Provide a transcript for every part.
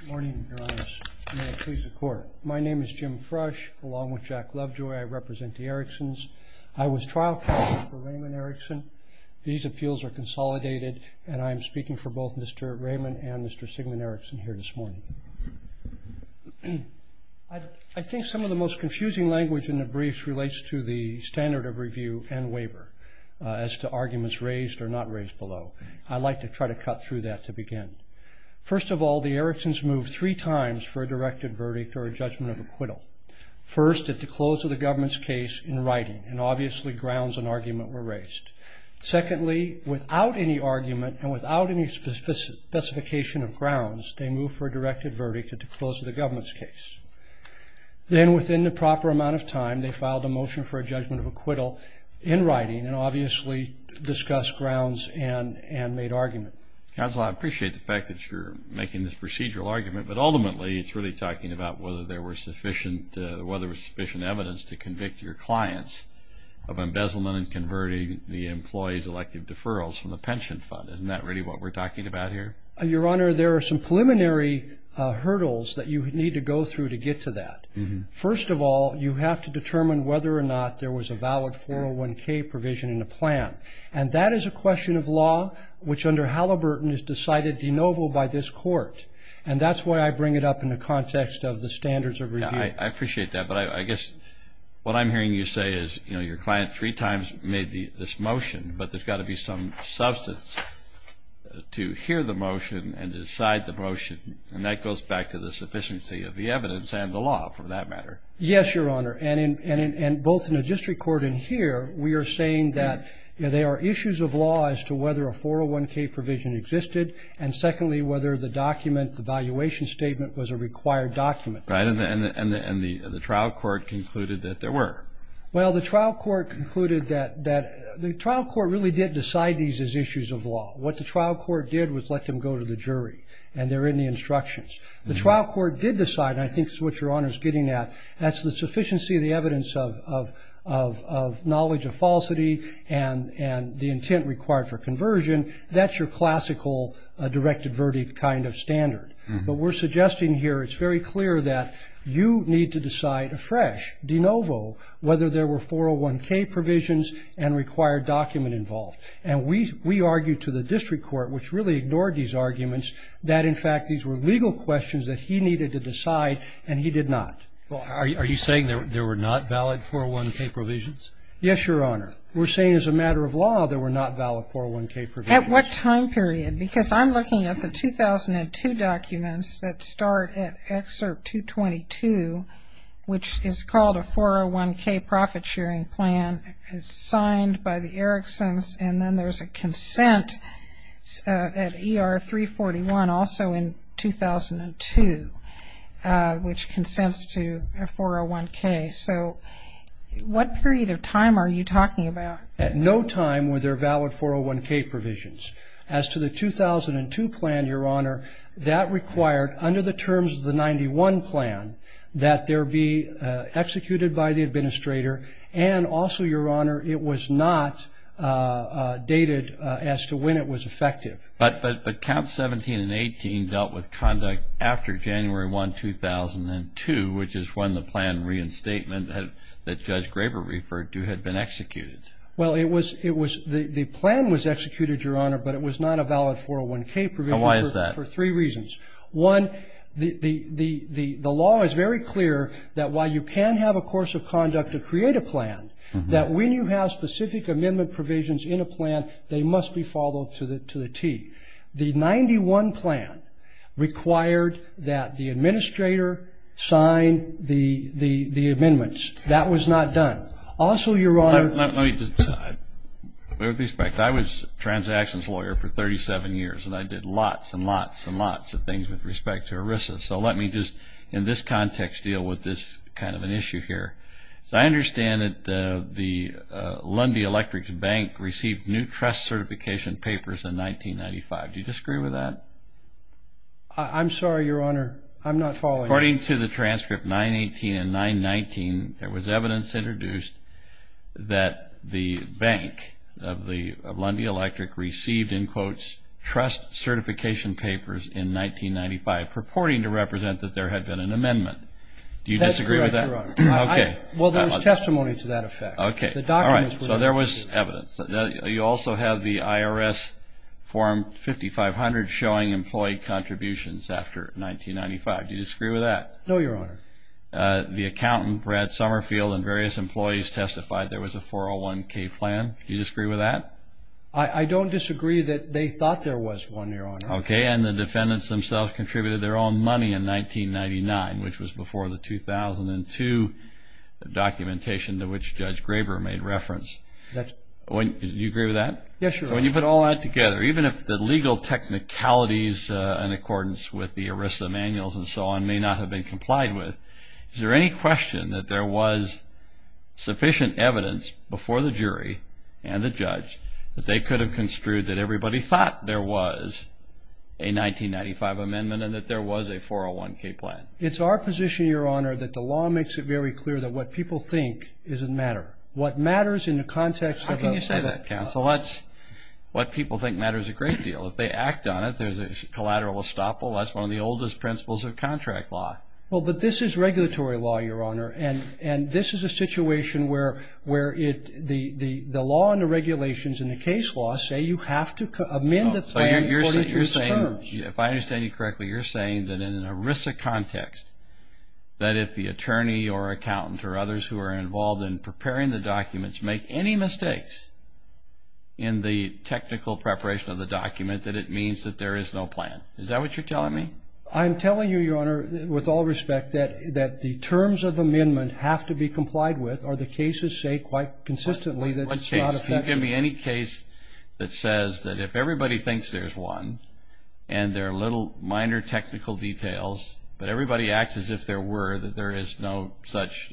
Good morning, Your Honors. May it please the Court. My name is Jim Frush, along with Jack Lovejoy, I represent the Eriksons. I was trial counsel for Raymond Erikson. These appeals are consolidated, and I am speaking for both Mr. Raymond and Mr. Sigmund Erikson here this morning. I think some of the most confusing language in the briefs relates to the standard of review and waiver, as to arguments raised or not raised below. I'd like to try to cut through that to begin. First of all, the Eriksons moved three times for a directed verdict or a judgment of acquittal. First, at the close of the government's case in writing, and obviously grounds and argument were raised. Secondly, without any argument and without any specification of grounds, they moved for a directed verdict at the close of the government's case. Then, within the proper amount of time, they filed a motion for a judgment of acquittal in writing, and obviously discussed grounds and made argument. Counsel, I appreciate the fact that you're making this procedural argument, but ultimately it's really talking about whether there was sufficient evidence to convict your clients of embezzlement and converting the employee's elective deferrals from the pension fund. Isn't that really what we're talking about here? Your Honor, there are some preliminary hurdles that you need to go through to get to that. First of all, you have to determine whether or not there was a valid 401k provision in the plan, and that is a question of law, which under Halliburton is decided de novo by this Court, and that's why I bring it up in the context of the standards of review. I appreciate that, but I guess what I'm hearing you say is, you know, your client three times made this motion, but there's got to be some substance to hear the motion and decide the motion, and that goes back to the sufficiency of the evidence and the law, for that matter. Yes, Your Honor, and both in the district court and here, we are saying that there are issues of law as to whether a 401k provision existed, and secondly, whether the document, the valuation statement, was a required document. Right, and the trial court concluded that there were. Well, the trial court concluded that the trial court really did decide these as issues of law. What the trial court did was let them go to the jury, and they're in the instructions. The trial court did decide, and I think it's what Your Honor is getting at, that's the sufficiency of the evidence of knowledge of falsity and the intent required for conversion. That's your classical direct averted kind of standard, but we're suggesting here, it's very clear that you need to decide afresh, de novo, whether there were 401k provisions and required document involved, and we argue to the district court, which really ignored these arguments, that, in fact, these were legal questions that he needed to decide, and he did not. Well, are you saying there were not valid 401k provisions? Yes, Your Honor. We're saying as a matter of law there were not valid 401k provisions. At what time period? Because I'm looking at the 2002 documents that start at Excerpt 222, which is called a 401k profit sharing plan. It's signed by the Erickson's, and then there's a consent at ER 341, also in 2002, which consents to a 401k. So what period of time are you talking about? At no time were there valid 401k provisions. As to the 2002 plan, Your Honor, that required under the terms of the 91 plan that there be executed by the administrator, and also, Your Honor, it was not dated as to when it was effective. But Count 17 and 18 dealt with conduct after January 1, 2002, which is when the plan reinstatement that Judge Graber referred to had been executed. Well, it was the plan was executed, Your Honor, but it was not a valid 401k provision. Now, why is that? For three reasons. One, the law is very clear that while you can have a course of conduct to create a plan, that when you have specific amendment provisions in a plan, they must be followed to the T. The 91 plan required that the administrator sign the amendments. That was not done. Also, Your Honor, Let me just clarify with respect. I was a transactions lawyer for 37 years, and I did lots and lots and lots of things with respect to ERISA. So let me just, in this context, deal with this kind of an issue here. So I understand that the Lundy Electric's bank received new trust certification papers in 1995. Do you disagree with that? I'm sorry, Your Honor. I'm not following. According to the transcript 918 and 919, there was evidence introduced that the bank of Lundy Electric received, in quotes, trust certification papers in 1995, purporting to represent that there had been an amendment. Do you disagree with that? No, Your Honor. Well, there was testimony to that effect. All right. So there was evidence. You also have the IRS form 5500 showing employee contributions after 1995. Do you disagree with that? No, Your Honor. The accountant, Brad Summerfield, and various employees testified there was a 401k plan. Do you disagree with that? I don't disagree that they thought there was one, Your Honor. Okay. And the defendants themselves contributed their own money in 1999, which was before the 2002 documentation to which Judge Graber made reference. Do you agree with that? Yes, Your Honor. When you put all that together, even if the legal technicalities in accordance with the ERISA manuals and so on may not have been complied with, is there any question that there was sufficient evidence before the jury and the judge that they could have construed that everybody thought there was a 1995 amendment and that there was a 401k plan? It's our position, Your Honor, that the law makes it very clear that what people think doesn't matter. What matters in the context of a- How can you say that, counsel? What people think matters a great deal. If they act on it, there's a collateral estoppel. That's one of the oldest principles of contract law. Well, but this is regulatory law, Your Honor, and this is a situation where the law and the regulations in the case law say you have to amend the plan according to its terms. If I understand you correctly, you're saying that in an ERISA context, that if the attorney or accountant or others who are involved in preparing the documents make any mistakes in the technical preparation of the document, that it means that there is no plan. Is that what you're telling me? I'm telling you, Your Honor, with all respect, that the terms of amendment have to be complied with, or the cases say quite consistently that it's not effective. Give me any case that says that if everybody thinks there's one, and there are little minor technical details, but everybody acts as if there were, that there is no such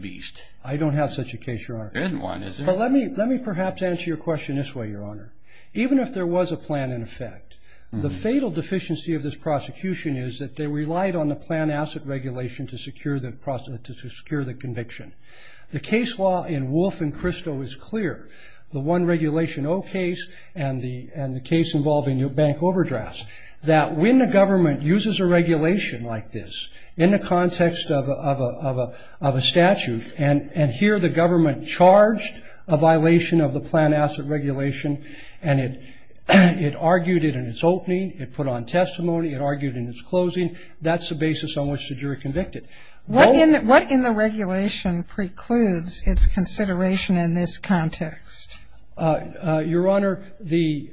beast. I don't have such a case, Your Honor. There isn't one, is there? But let me perhaps answer your question this way, Your Honor. Even if there was a plan in effect, the fatal deficiency of this prosecution is that they relied on the plan asset regulation to secure the conviction. The case law in Wolfe and Christo is clear, the One Regulation O case and the case involving bank overdrafts, that when the government uses a regulation like this in the context of a statute, and here the government charged a violation of the plan asset regulation, and it argued it in its opening, it put on testimony, it argued in its closing, that's the basis on which the jury convicted. What in the regulation precludes its consideration in this context? Your Honor, the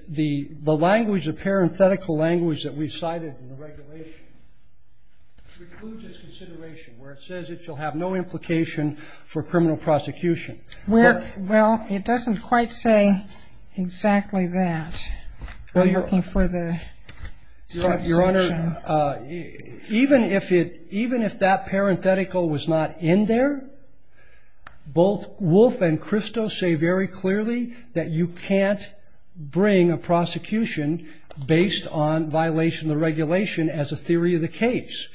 language, the parenthetical language that we've cited in the regulation, precludes its consideration, where it says it shall have no implication for criminal prosecution. Well, it doesn't quite say exactly that. I'm looking for the subsection. Your Honor, even if that parenthetical was not in there, both Wolfe and Christo say very clearly that you can't bring a prosecution based on violation of the regulation as a theory of the case.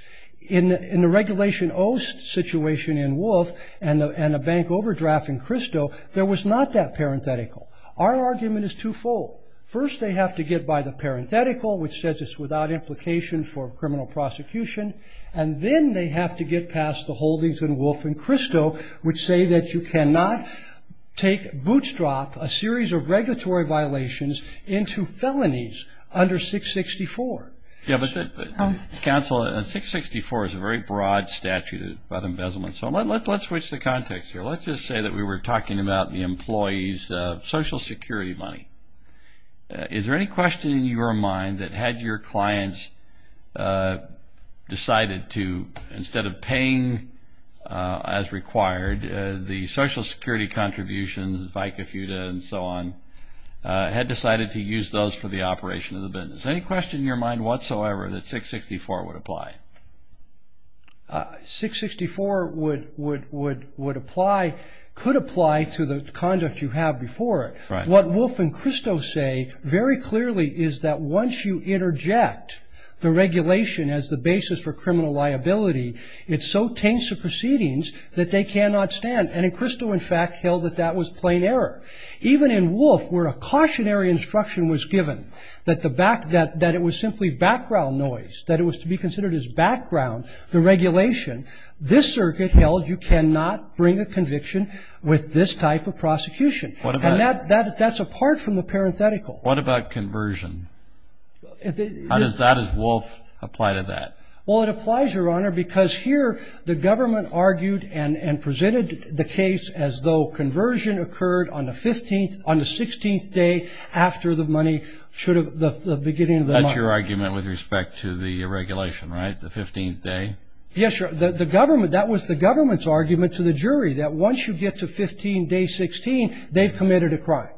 In the regulation O situation in Wolfe and a bank overdraft in Christo, there was not that parenthetical. Our argument is twofold. First, they have to get by the parenthetical, which says it's without implication for criminal prosecution, and then they have to get past the holdings in Wolfe and Christo, which say that you cannot bootstrap a series of regulatory violations into felonies under 664. Counsel, 664 is a very broad statute about embezzlement. So let's switch the context here. Let's just say that we were talking about the employee's Social Security money. Is there any question in your mind that had your clients decided to, instead of paying as required, the Social Security contributions, VICA, FUTA, and so on, had decided to use those for the operation of the business? Any question in your mind whatsoever that 664 would apply? 664 would apply, could apply to the conduct you have before it. What Wolfe and Christo say very clearly is that once you interject the regulation as the basis for criminal liability, it so taints the proceedings that they cannot stand. And Christo, in fact, held that that was plain error. Even in Wolfe, where a cautionary instruction was given, that it was simply background noise, that it was to be considered as background, the regulation, this circuit held you cannot bring a conviction with this type of prosecution. And that's apart from the parenthetical. What about conversion? How does that, as Wolfe, apply to that? Well, it applies, Your Honor, because here the government argued and presented the case as though conversion occurred on the 15th, on the 16th day after the money should have, the beginning of the month. That's your argument with respect to the regulation, right, the 15th day? Yes, Your Honor, the government, that was the government's argument to the jury, that once you get to 15, day 16, they've committed a crime.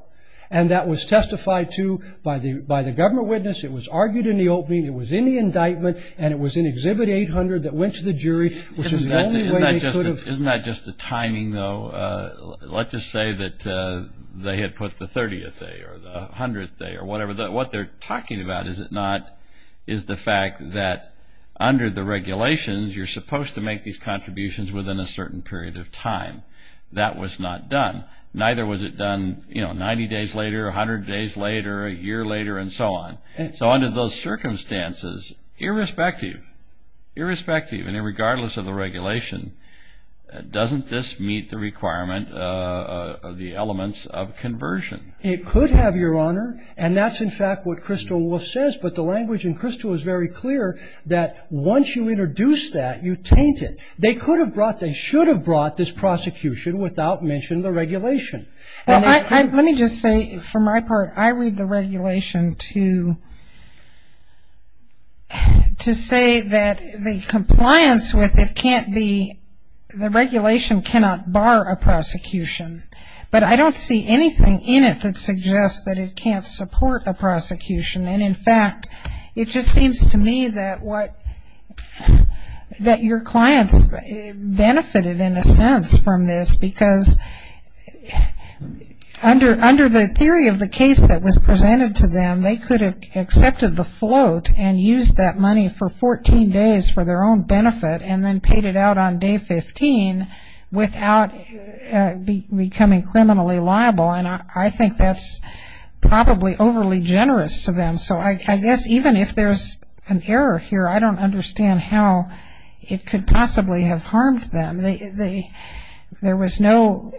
And that was testified to by the government witness. It was argued in the opening. It was in the indictment. And it was in Exhibit 800 that went to the jury, which is the only way they could have. Isn't that just the timing, though? Let's just say that they had put the 30th day or the 100th day or whatever. What they're talking about, is it not, is the fact that under the regulations, you're supposed to make these contributions within a certain period of time. That was not done. Neither was it done, you know, 90 days later, 100 days later, a year later, and so on. So under those circumstances, irrespective, irrespective and regardless of the regulation, doesn't this meet the requirement of the elements of conversion? It could have, Your Honor. And that's, in fact, what Crystal Wolf says. But the language in Crystal is very clear that once you introduce that, you taint it. They could have brought, they should have brought this prosecution without mention of the regulation. Well, let me just say, for my part, I read the regulation to say that the compliance with it can't be, the regulation cannot bar a prosecution. But I don't see anything in it that suggests that it can't support a prosecution. And, in fact, it just seems to me that what, that your clients benefited in a sense from this, because under the theory of the case that was presented to them, they could have accepted the float and used that money for 14 days for their own benefit and then paid it out on day 15 without becoming criminally liable. And I think that's probably overly generous to them. So I guess even if there's an error here, I don't understand how it could possibly have harmed them. There was no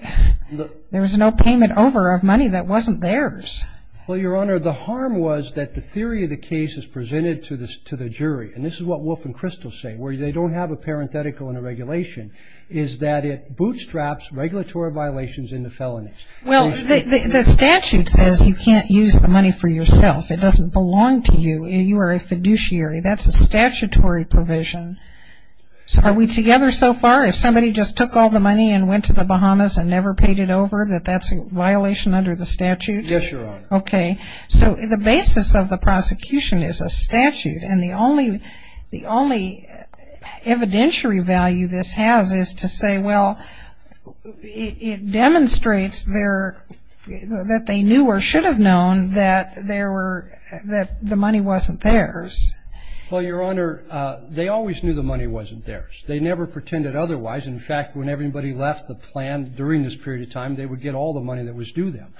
payment over of money that wasn't theirs. Well, Your Honor, the harm was that the theory of the case is presented to the jury. And this is what Wolf and Crystal say, where they don't have a parenthetical in the regulation, is that it bootstraps regulatory violations into felonies. Well, the statute says you can't use the money for yourself. It doesn't belong to you. You are a fiduciary. That's a statutory provision. Are we together so far? If somebody just took all the money and went to the Bahamas and never paid it over, that that's a violation under the statute? Yes, Your Honor. Okay. So the basis of the prosecution is a statute, and the only evidentiary value this has is to say, well, it demonstrates that they knew or should have known that the money wasn't theirs. Well, Your Honor, they always knew the money wasn't theirs. They never pretended otherwise. In fact, when everybody left the plan during this period of time, they would get all the money that was due them.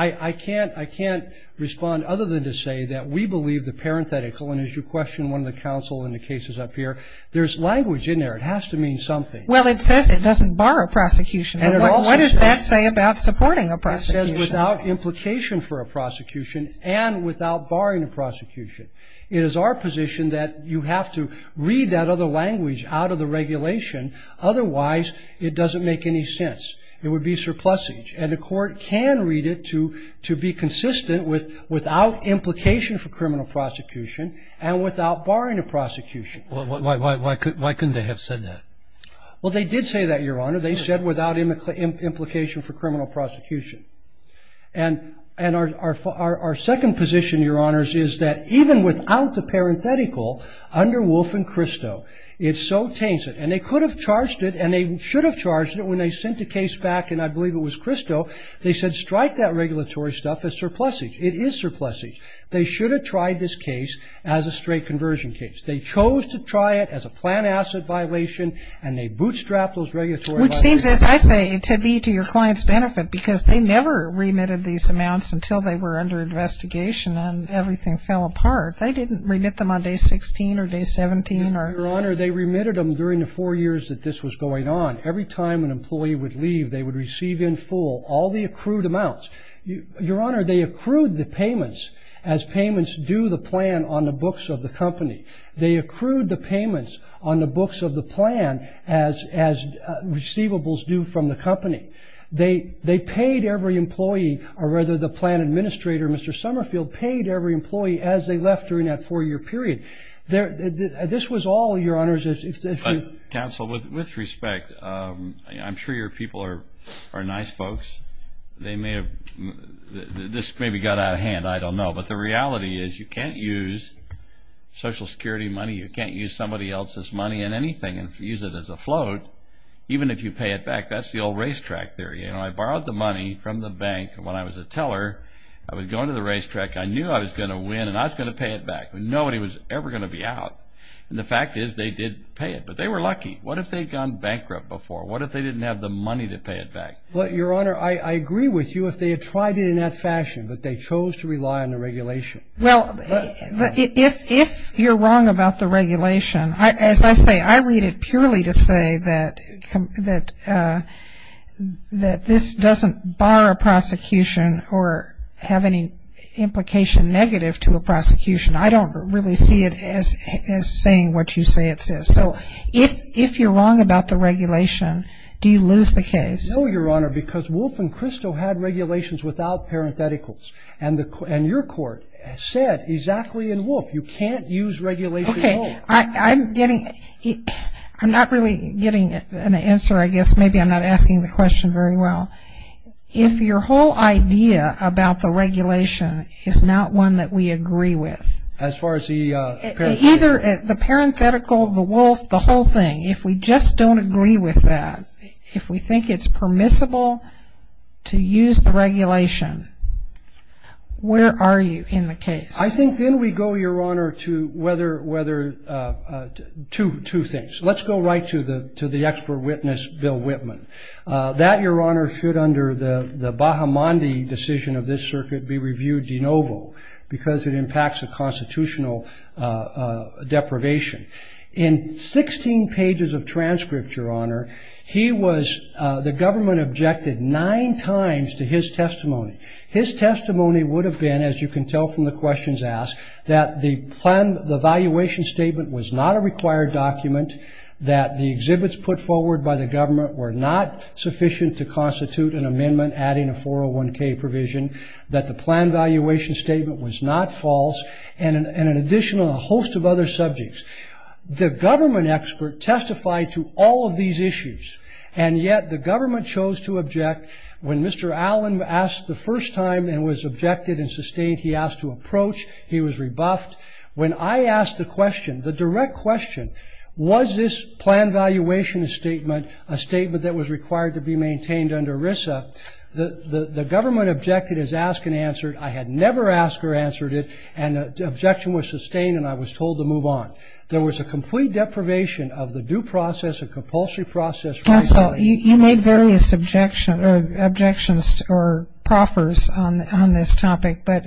I can't respond other than to say that we believe the parenthetical, and as you questioned one of the counsel in the cases up here, there's language in there. It has to mean something. Well, it says it doesn't bar a prosecution. What does that say about supporting a prosecution? It says without implication for a prosecution and without barring a prosecution. It is our position that you have to read that other language out of the regulation, otherwise it doesn't make any sense. It would be surplusage. And the court can read it to be consistent with without implication for criminal prosecution and without barring a prosecution. Why couldn't they have said that? Well, they did say that, Your Honor. They said without implication for criminal prosecution. And our second position, Your Honors, is that even without the parenthetical under Wolfe and Christo, it's so tainted. And they could have charged it, and they should have charged it when they sent the case back, and I believe it was Christo, they said strike that regulatory stuff as surplusage. It is surplusage. They should have tried this case as a straight conversion case. They chose to try it as a plant asset violation, and they bootstrapped those regulatory violations. Which seems, as I say, to be to your client's benefit, because they never remitted these amounts until they were under investigation and everything fell apart. They didn't remit them on day 16 or day 17. Your Honor, they remitted them during the four years that this was going on. Every time an employee would leave, they would receive in full all the accrued amounts. Your Honor, they accrued the payments as payments due the plan on the books of the company. They accrued the payments on the books of the plan as receivables due from the company. They paid every employee, or rather the plan administrator, Mr. Summerfield, paid every employee as they left during that four-year period. This was all, Your Honors, if you – Counsel, with respect, I'm sure your people are nice folks. They may have – this maybe got out of hand. I don't know. But the reality is you can't use Social Security money, you can't use somebody else's money in anything and use it as a float, even if you pay it back. That's the old racetrack theory. I borrowed the money from the bank when I was a teller. I would go into the racetrack. I knew I was going to win, and I was going to pay it back. Nobody was ever going to be out. And the fact is they did pay it, but they were lucky. What if they had gone bankrupt before? What if they didn't have the money to pay it back? Your Honor, I agree with you if they had tried it in that fashion, but they chose to rely on the regulation. Well, if you're wrong about the regulation, as I say, I read it purely to say that this doesn't bar a prosecution or have any implication negative to a prosecution. I don't really see it as saying what you say it says. So if you're wrong about the regulation, do you lose the case? No, Your Honor, because Wolf and Christo had regulations without parentheticals, and your court said exactly in Wolf you can't use regulation at all. Okay. I'm not really getting an answer. I guess maybe I'm not asking the question very well. If your whole idea about the regulation is not one that we agree with. As far as the parenthetical? The parenthetical, the Wolf, the whole thing, if we just don't agree with that, if we think it's permissible to use the regulation, where are you in the case? I think then we go, Your Honor, to two things. Let's go right to the expert witness, Bill Whitman. That, Your Honor, should under the Bahamandi decision of this circuit be reviewed de novo because it impacts a constitutional deprivation. In 16 pages of transcript, Your Honor, he was, the government objected nine times to his testimony. His testimony would have been, as you can tell from the questions asked, that the valuation statement was not a required document, that the exhibits put forward by the government were not sufficient to constitute an amendment adding a 401K provision, that the plan valuation statement was not false, and an additional host of other subjects. The government expert testified to all of these issues, and yet the government chose to object. When Mr. Allen asked the first time and was objected and sustained, he asked to approach. He was rebuffed. When I asked the question, the direct question, was this plan valuation statement a statement that was required to be maintained under RISA, the government objected, has asked and answered. I had never asked or answered it, and the objection was sustained and I was told to move on. There was a complete deprivation of the due process, a compulsory process. Counsel, you made various objections or proffers on this topic, but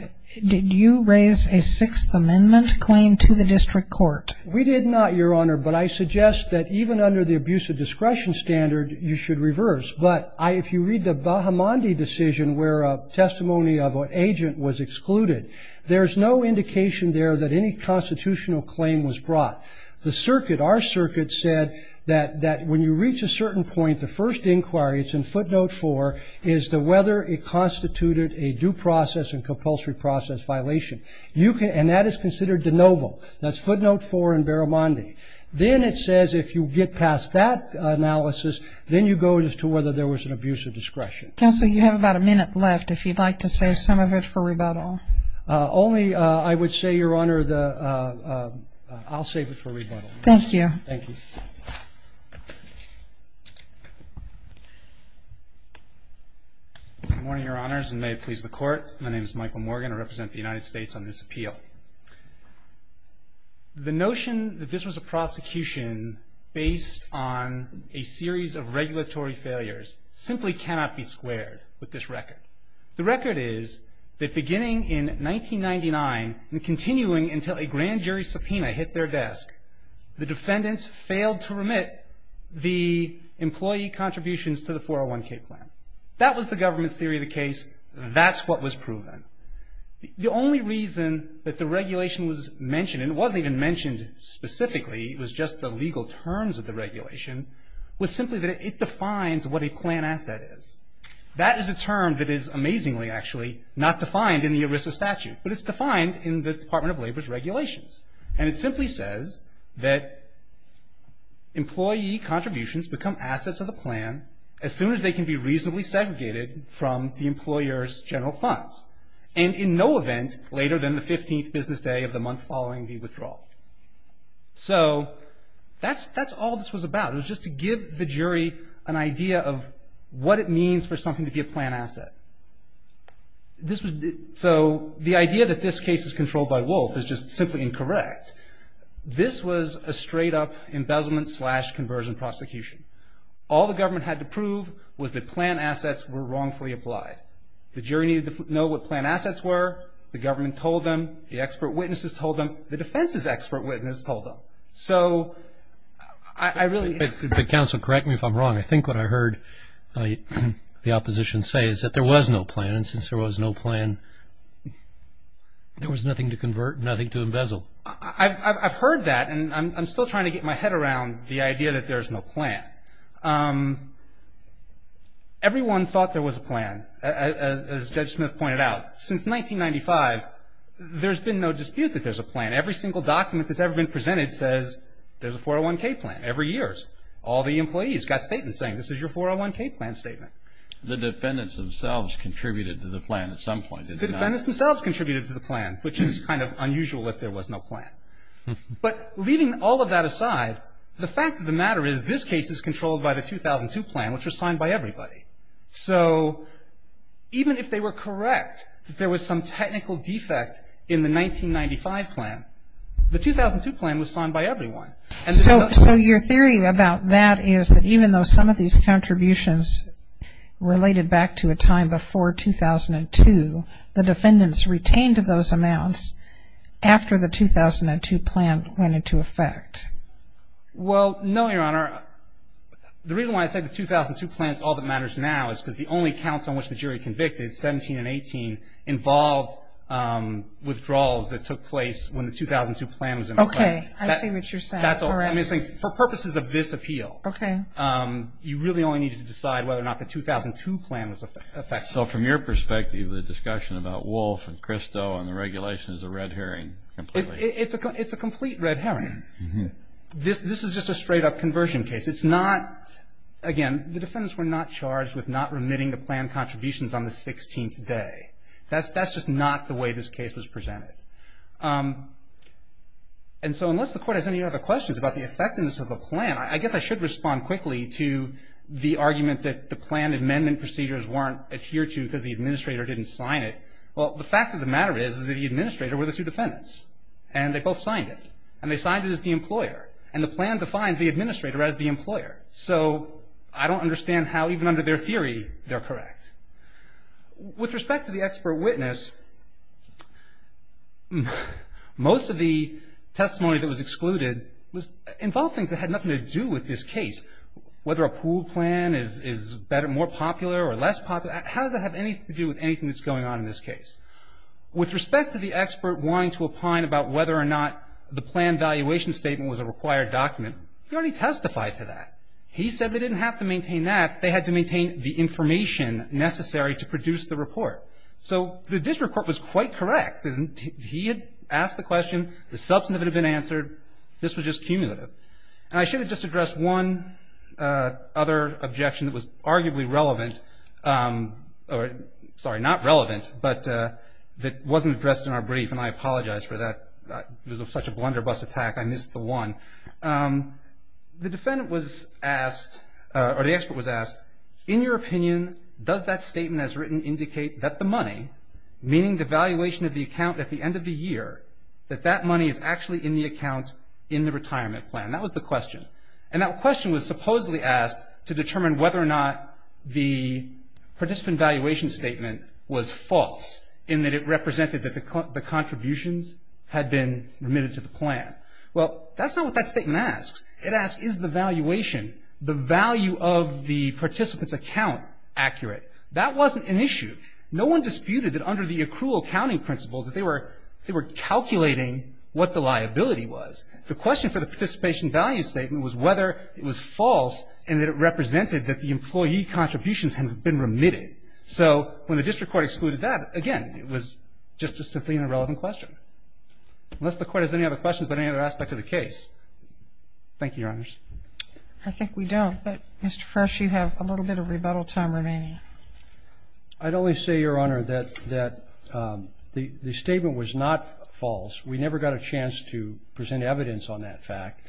did you raise a Sixth Amendment claim to the district court? We did not, Your Honor, but I suggest that even under the abuse of discretion standard, you should reverse. But if you read the Bahamandi decision where a testimony of an agent was excluded, there's no indication there that any constitutional claim was brought. The circuit, our circuit, said that when you reach a certain point, the first inquiry, it's in footnote four, is whether it constituted a due process and compulsory process violation. And that is considered de novo. That's footnote four in Bahamandi. Then it says if you get past that analysis, then you go as to whether there was an abuse of discretion. Counsel, you have about a minute left. If you'd like to save some of it for rebuttal. Only I would say, Your Honor, I'll save it for rebuttal. Thank you. Thank you. Good morning, Your Honors, and may it please the Court. My name is Michael Morgan. I represent the United States on this appeal. The notion that this was a prosecution based on a series of regulatory failures simply cannot be squared with this record. The record is that beginning in 1999 and continuing until a grand jury subpoena hit their desk, the defendants failed to remit the employee contributions to the 401K plan. That was the government's theory of the case. That's what was proven. The only reason that the regulation was mentioned, and it wasn't even mentioned specifically, it was just the legal terms of the regulation, was simply that it defines what a plan asset is. That is a term that is amazingly, actually, not defined in the ERISA statute, but it's defined in the Department of Labor's regulations. And it simply says that employee contributions become assets of the plan as soon as they can be reasonably segregated from the employer's general funds, and in no event later than the 15th business day of the month following the withdrawal. So that's all this was about. It was just to give the jury an idea of what it means for something to be a plan asset. So the idea that this case is controlled by Wolf is just simply incorrect. This was a straight-up embezzlement slash conversion prosecution. All the government had to prove was that plan assets were wrongfully applied. The jury needed to know what plan assets were. The government told them. The expert witnesses told them. The defense's expert witnesses told them. So I really... If the counsel correct me if I'm wrong, I think what I heard the opposition say is that there was no plan, and since there was no plan, there was nothing to convert and nothing to embezzle. I've heard that, and I'm still trying to get my head around the idea that there's no plan. Everyone thought there was a plan, as Judge Smith pointed out. And every single document that's ever been presented says there's a 401K plan. Every year, all the employees got statements saying this is your 401K plan statement. The defendants themselves contributed to the plan at some point, did they not? The defendants themselves contributed to the plan, which is kind of unusual if there was no plan. But leaving all of that aside, the fact of the matter is this case is controlled by the 2002 plan, which was signed by everybody. So even if they were correct that there was some technical defect in the 1995 plan, the 2002 plan was signed by everyone. And so your theory about that is that even though some of these contributions related back to a time before 2002, the defendants retained those amounts after the 2002 plan went into effect. Well, no, Your Honor. The reason why I say the 2002 plan is all that matters now is because the only counts on which the jury convicted, 17 and 18, involved withdrawals that took place when the 2002 plan was in effect. Okay, I see what you're saying. That's all I'm saying. For purposes of this appeal, you really only need to decide whether or not the 2002 plan was in effect. So from your perspective, the discussion about Wolfe and Christo and the regulations is a red herring? It's a complete red herring. This is just a straight-up conversion case. It's not, again, the defendants were not charged with not remitting the plan contributions on the 16th day. That's just not the way this case was presented. And so unless the Court has any other questions about the effectiveness of the plan, I guess I should respond quickly to the argument that the plan amendment procedures weren't adhered to because the administrator didn't sign it. Well, the fact of the matter is that the administrator were the two defendants, and they both signed it, and they signed it as the employer, and the plan defines the administrator as the employer. So I don't understand how even under their theory they're correct. With respect to the expert witness, most of the testimony that was excluded involved things that had nothing to do with this case, whether a pool plan is more popular or less popular. How does that have anything to do with anything that's going on in this case? With respect to the expert wanting to opine about whether or not the plan valuation statement was a required document, he already testified to that. He said they didn't have to maintain that. They had to maintain the information necessary to produce the report. So this report was quite correct. He had asked the question. The substantive had been answered. This was just cumulative. And I should have just addressed one other objection that was arguably relevant, or sorry, not relevant, but that wasn't addressed in our brief, and I apologize for that. It was such a blunderbuss attack, I missed the one. The defendant was asked, or the expert was asked, in your opinion does that statement as written indicate that the money, meaning the valuation of the account at the end of the year, that that money is actually in the account in the retirement plan? That was the question. And that question was supposedly asked to determine whether or not the participant valuation statement was false, in that it represented that the contributions had been remitted to the plan. Well, that's not what that statement asks. It asks is the valuation, the value of the participant's account accurate? That wasn't an issue. No one disputed that under the accrual accounting principles, that they were calculating what the liability was. The question for the participation value statement was whether it was false and that it represented that the employee contributions had been remitted. So when the district court excluded that, again, it was just a simply irrelevant question. Unless the Court has any other questions about any other aspect of the case. Thank you, Your Honors. I think we don't, but Mr. Frisch, you have a little bit of rebuttal time remaining. I'd only say, Your Honor, that the statement was not false. We never got a chance to present evidence on that fact.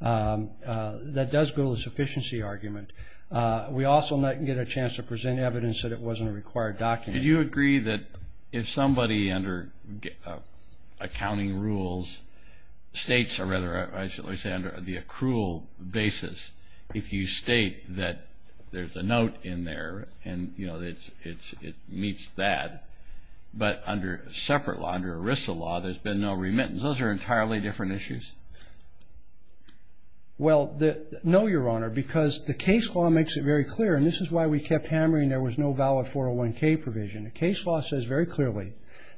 That does go to the sufficiency argument. We also did not get a chance to present evidence that it wasn't a required document. Do you agree that if somebody under accounting rules states, or rather I should say under the accrual basis, if you state that there's a note in there and, you know, it meets that, but under separate law, under ERISA law, there's been no remittance? Those are entirely different issues. Well, no, Your Honor, because the case law makes it very clear, and this is why we kept hammering there was no valid 401K provision. The case law says very clearly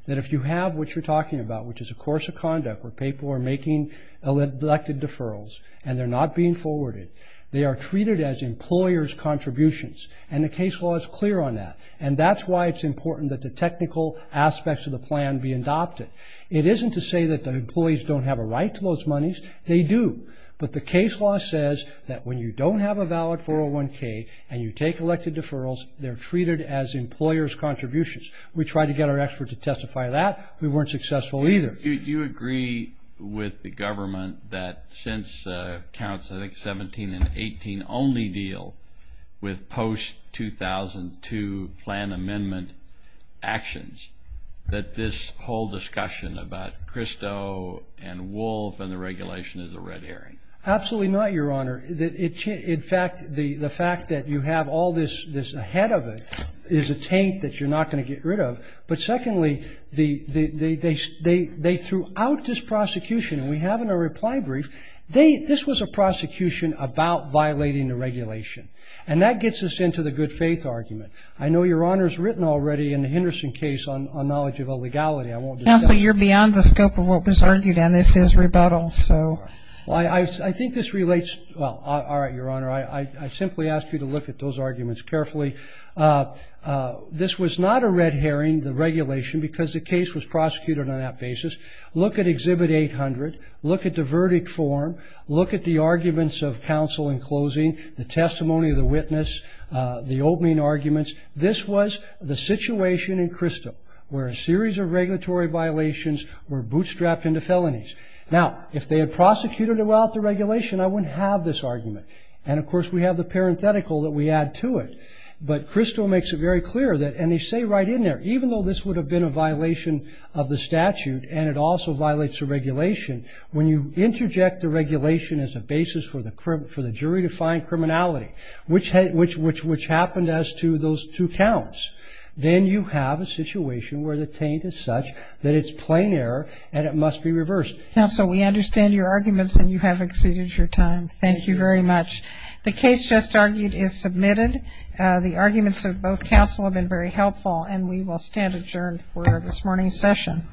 that if you have what you're talking about, which is a course of conduct where people are making elected deferrals and they're not being forwarded, they are treated as employer's contributions, and the case law is clear on that. And that's why it's important that the technical aspects of the plan be adopted. It isn't to say that the employees don't have a right to those monies. They do. But the case law says that when you don't have a valid 401K and you take elected deferrals, they're treated as employer's contributions. We tried to get our expert to testify to that. We weren't successful either. Do you agree with the government that since counts, I think, 17 and 18, can only deal with post-2002 plan amendment actions, that this whole discussion about Christo and Wolf and the regulation is a red herring? Absolutely not, Your Honor. In fact, the fact that you have all this ahead of it is a taint that you're not going to get rid of. But secondly, they threw out this prosecution, and we have in our reply brief, this was a prosecution about violating the regulation. And that gets us into the good faith argument. I know Your Honor's written already in the Henderson case on knowledge of illegality. Counsel, you're beyond the scope of what was argued, and this is rebuttal, so. I think this relates to, well, all right, Your Honor, I simply ask you to look at those arguments carefully. This was not a red herring, the regulation, because the case was prosecuted on that basis. Look at Exhibit 800. Look at the verdict form. Look at the arguments of counsel in closing, the testimony of the witness, the opening arguments. This was the situation in Christo where a series of regulatory violations were bootstrapped into felonies. Now, if they had prosecuted it without the regulation, I wouldn't have this argument. And, of course, we have the parenthetical that we add to it. But Christo makes it very clear that, and they say right in there, even though this would have been a violation of the statute and it also violates the regulation, when you interject the regulation as a basis for the jury to find criminality, which happened as to those two counts, then you have a situation where the taint is such that it's plain error and it must be reversed. Counsel, we understand your arguments and you have exceeded your time. Thank you very much. The case just argued is submitted. The arguments of both counsel have been very helpful, and we will stand adjourned for this morning's session.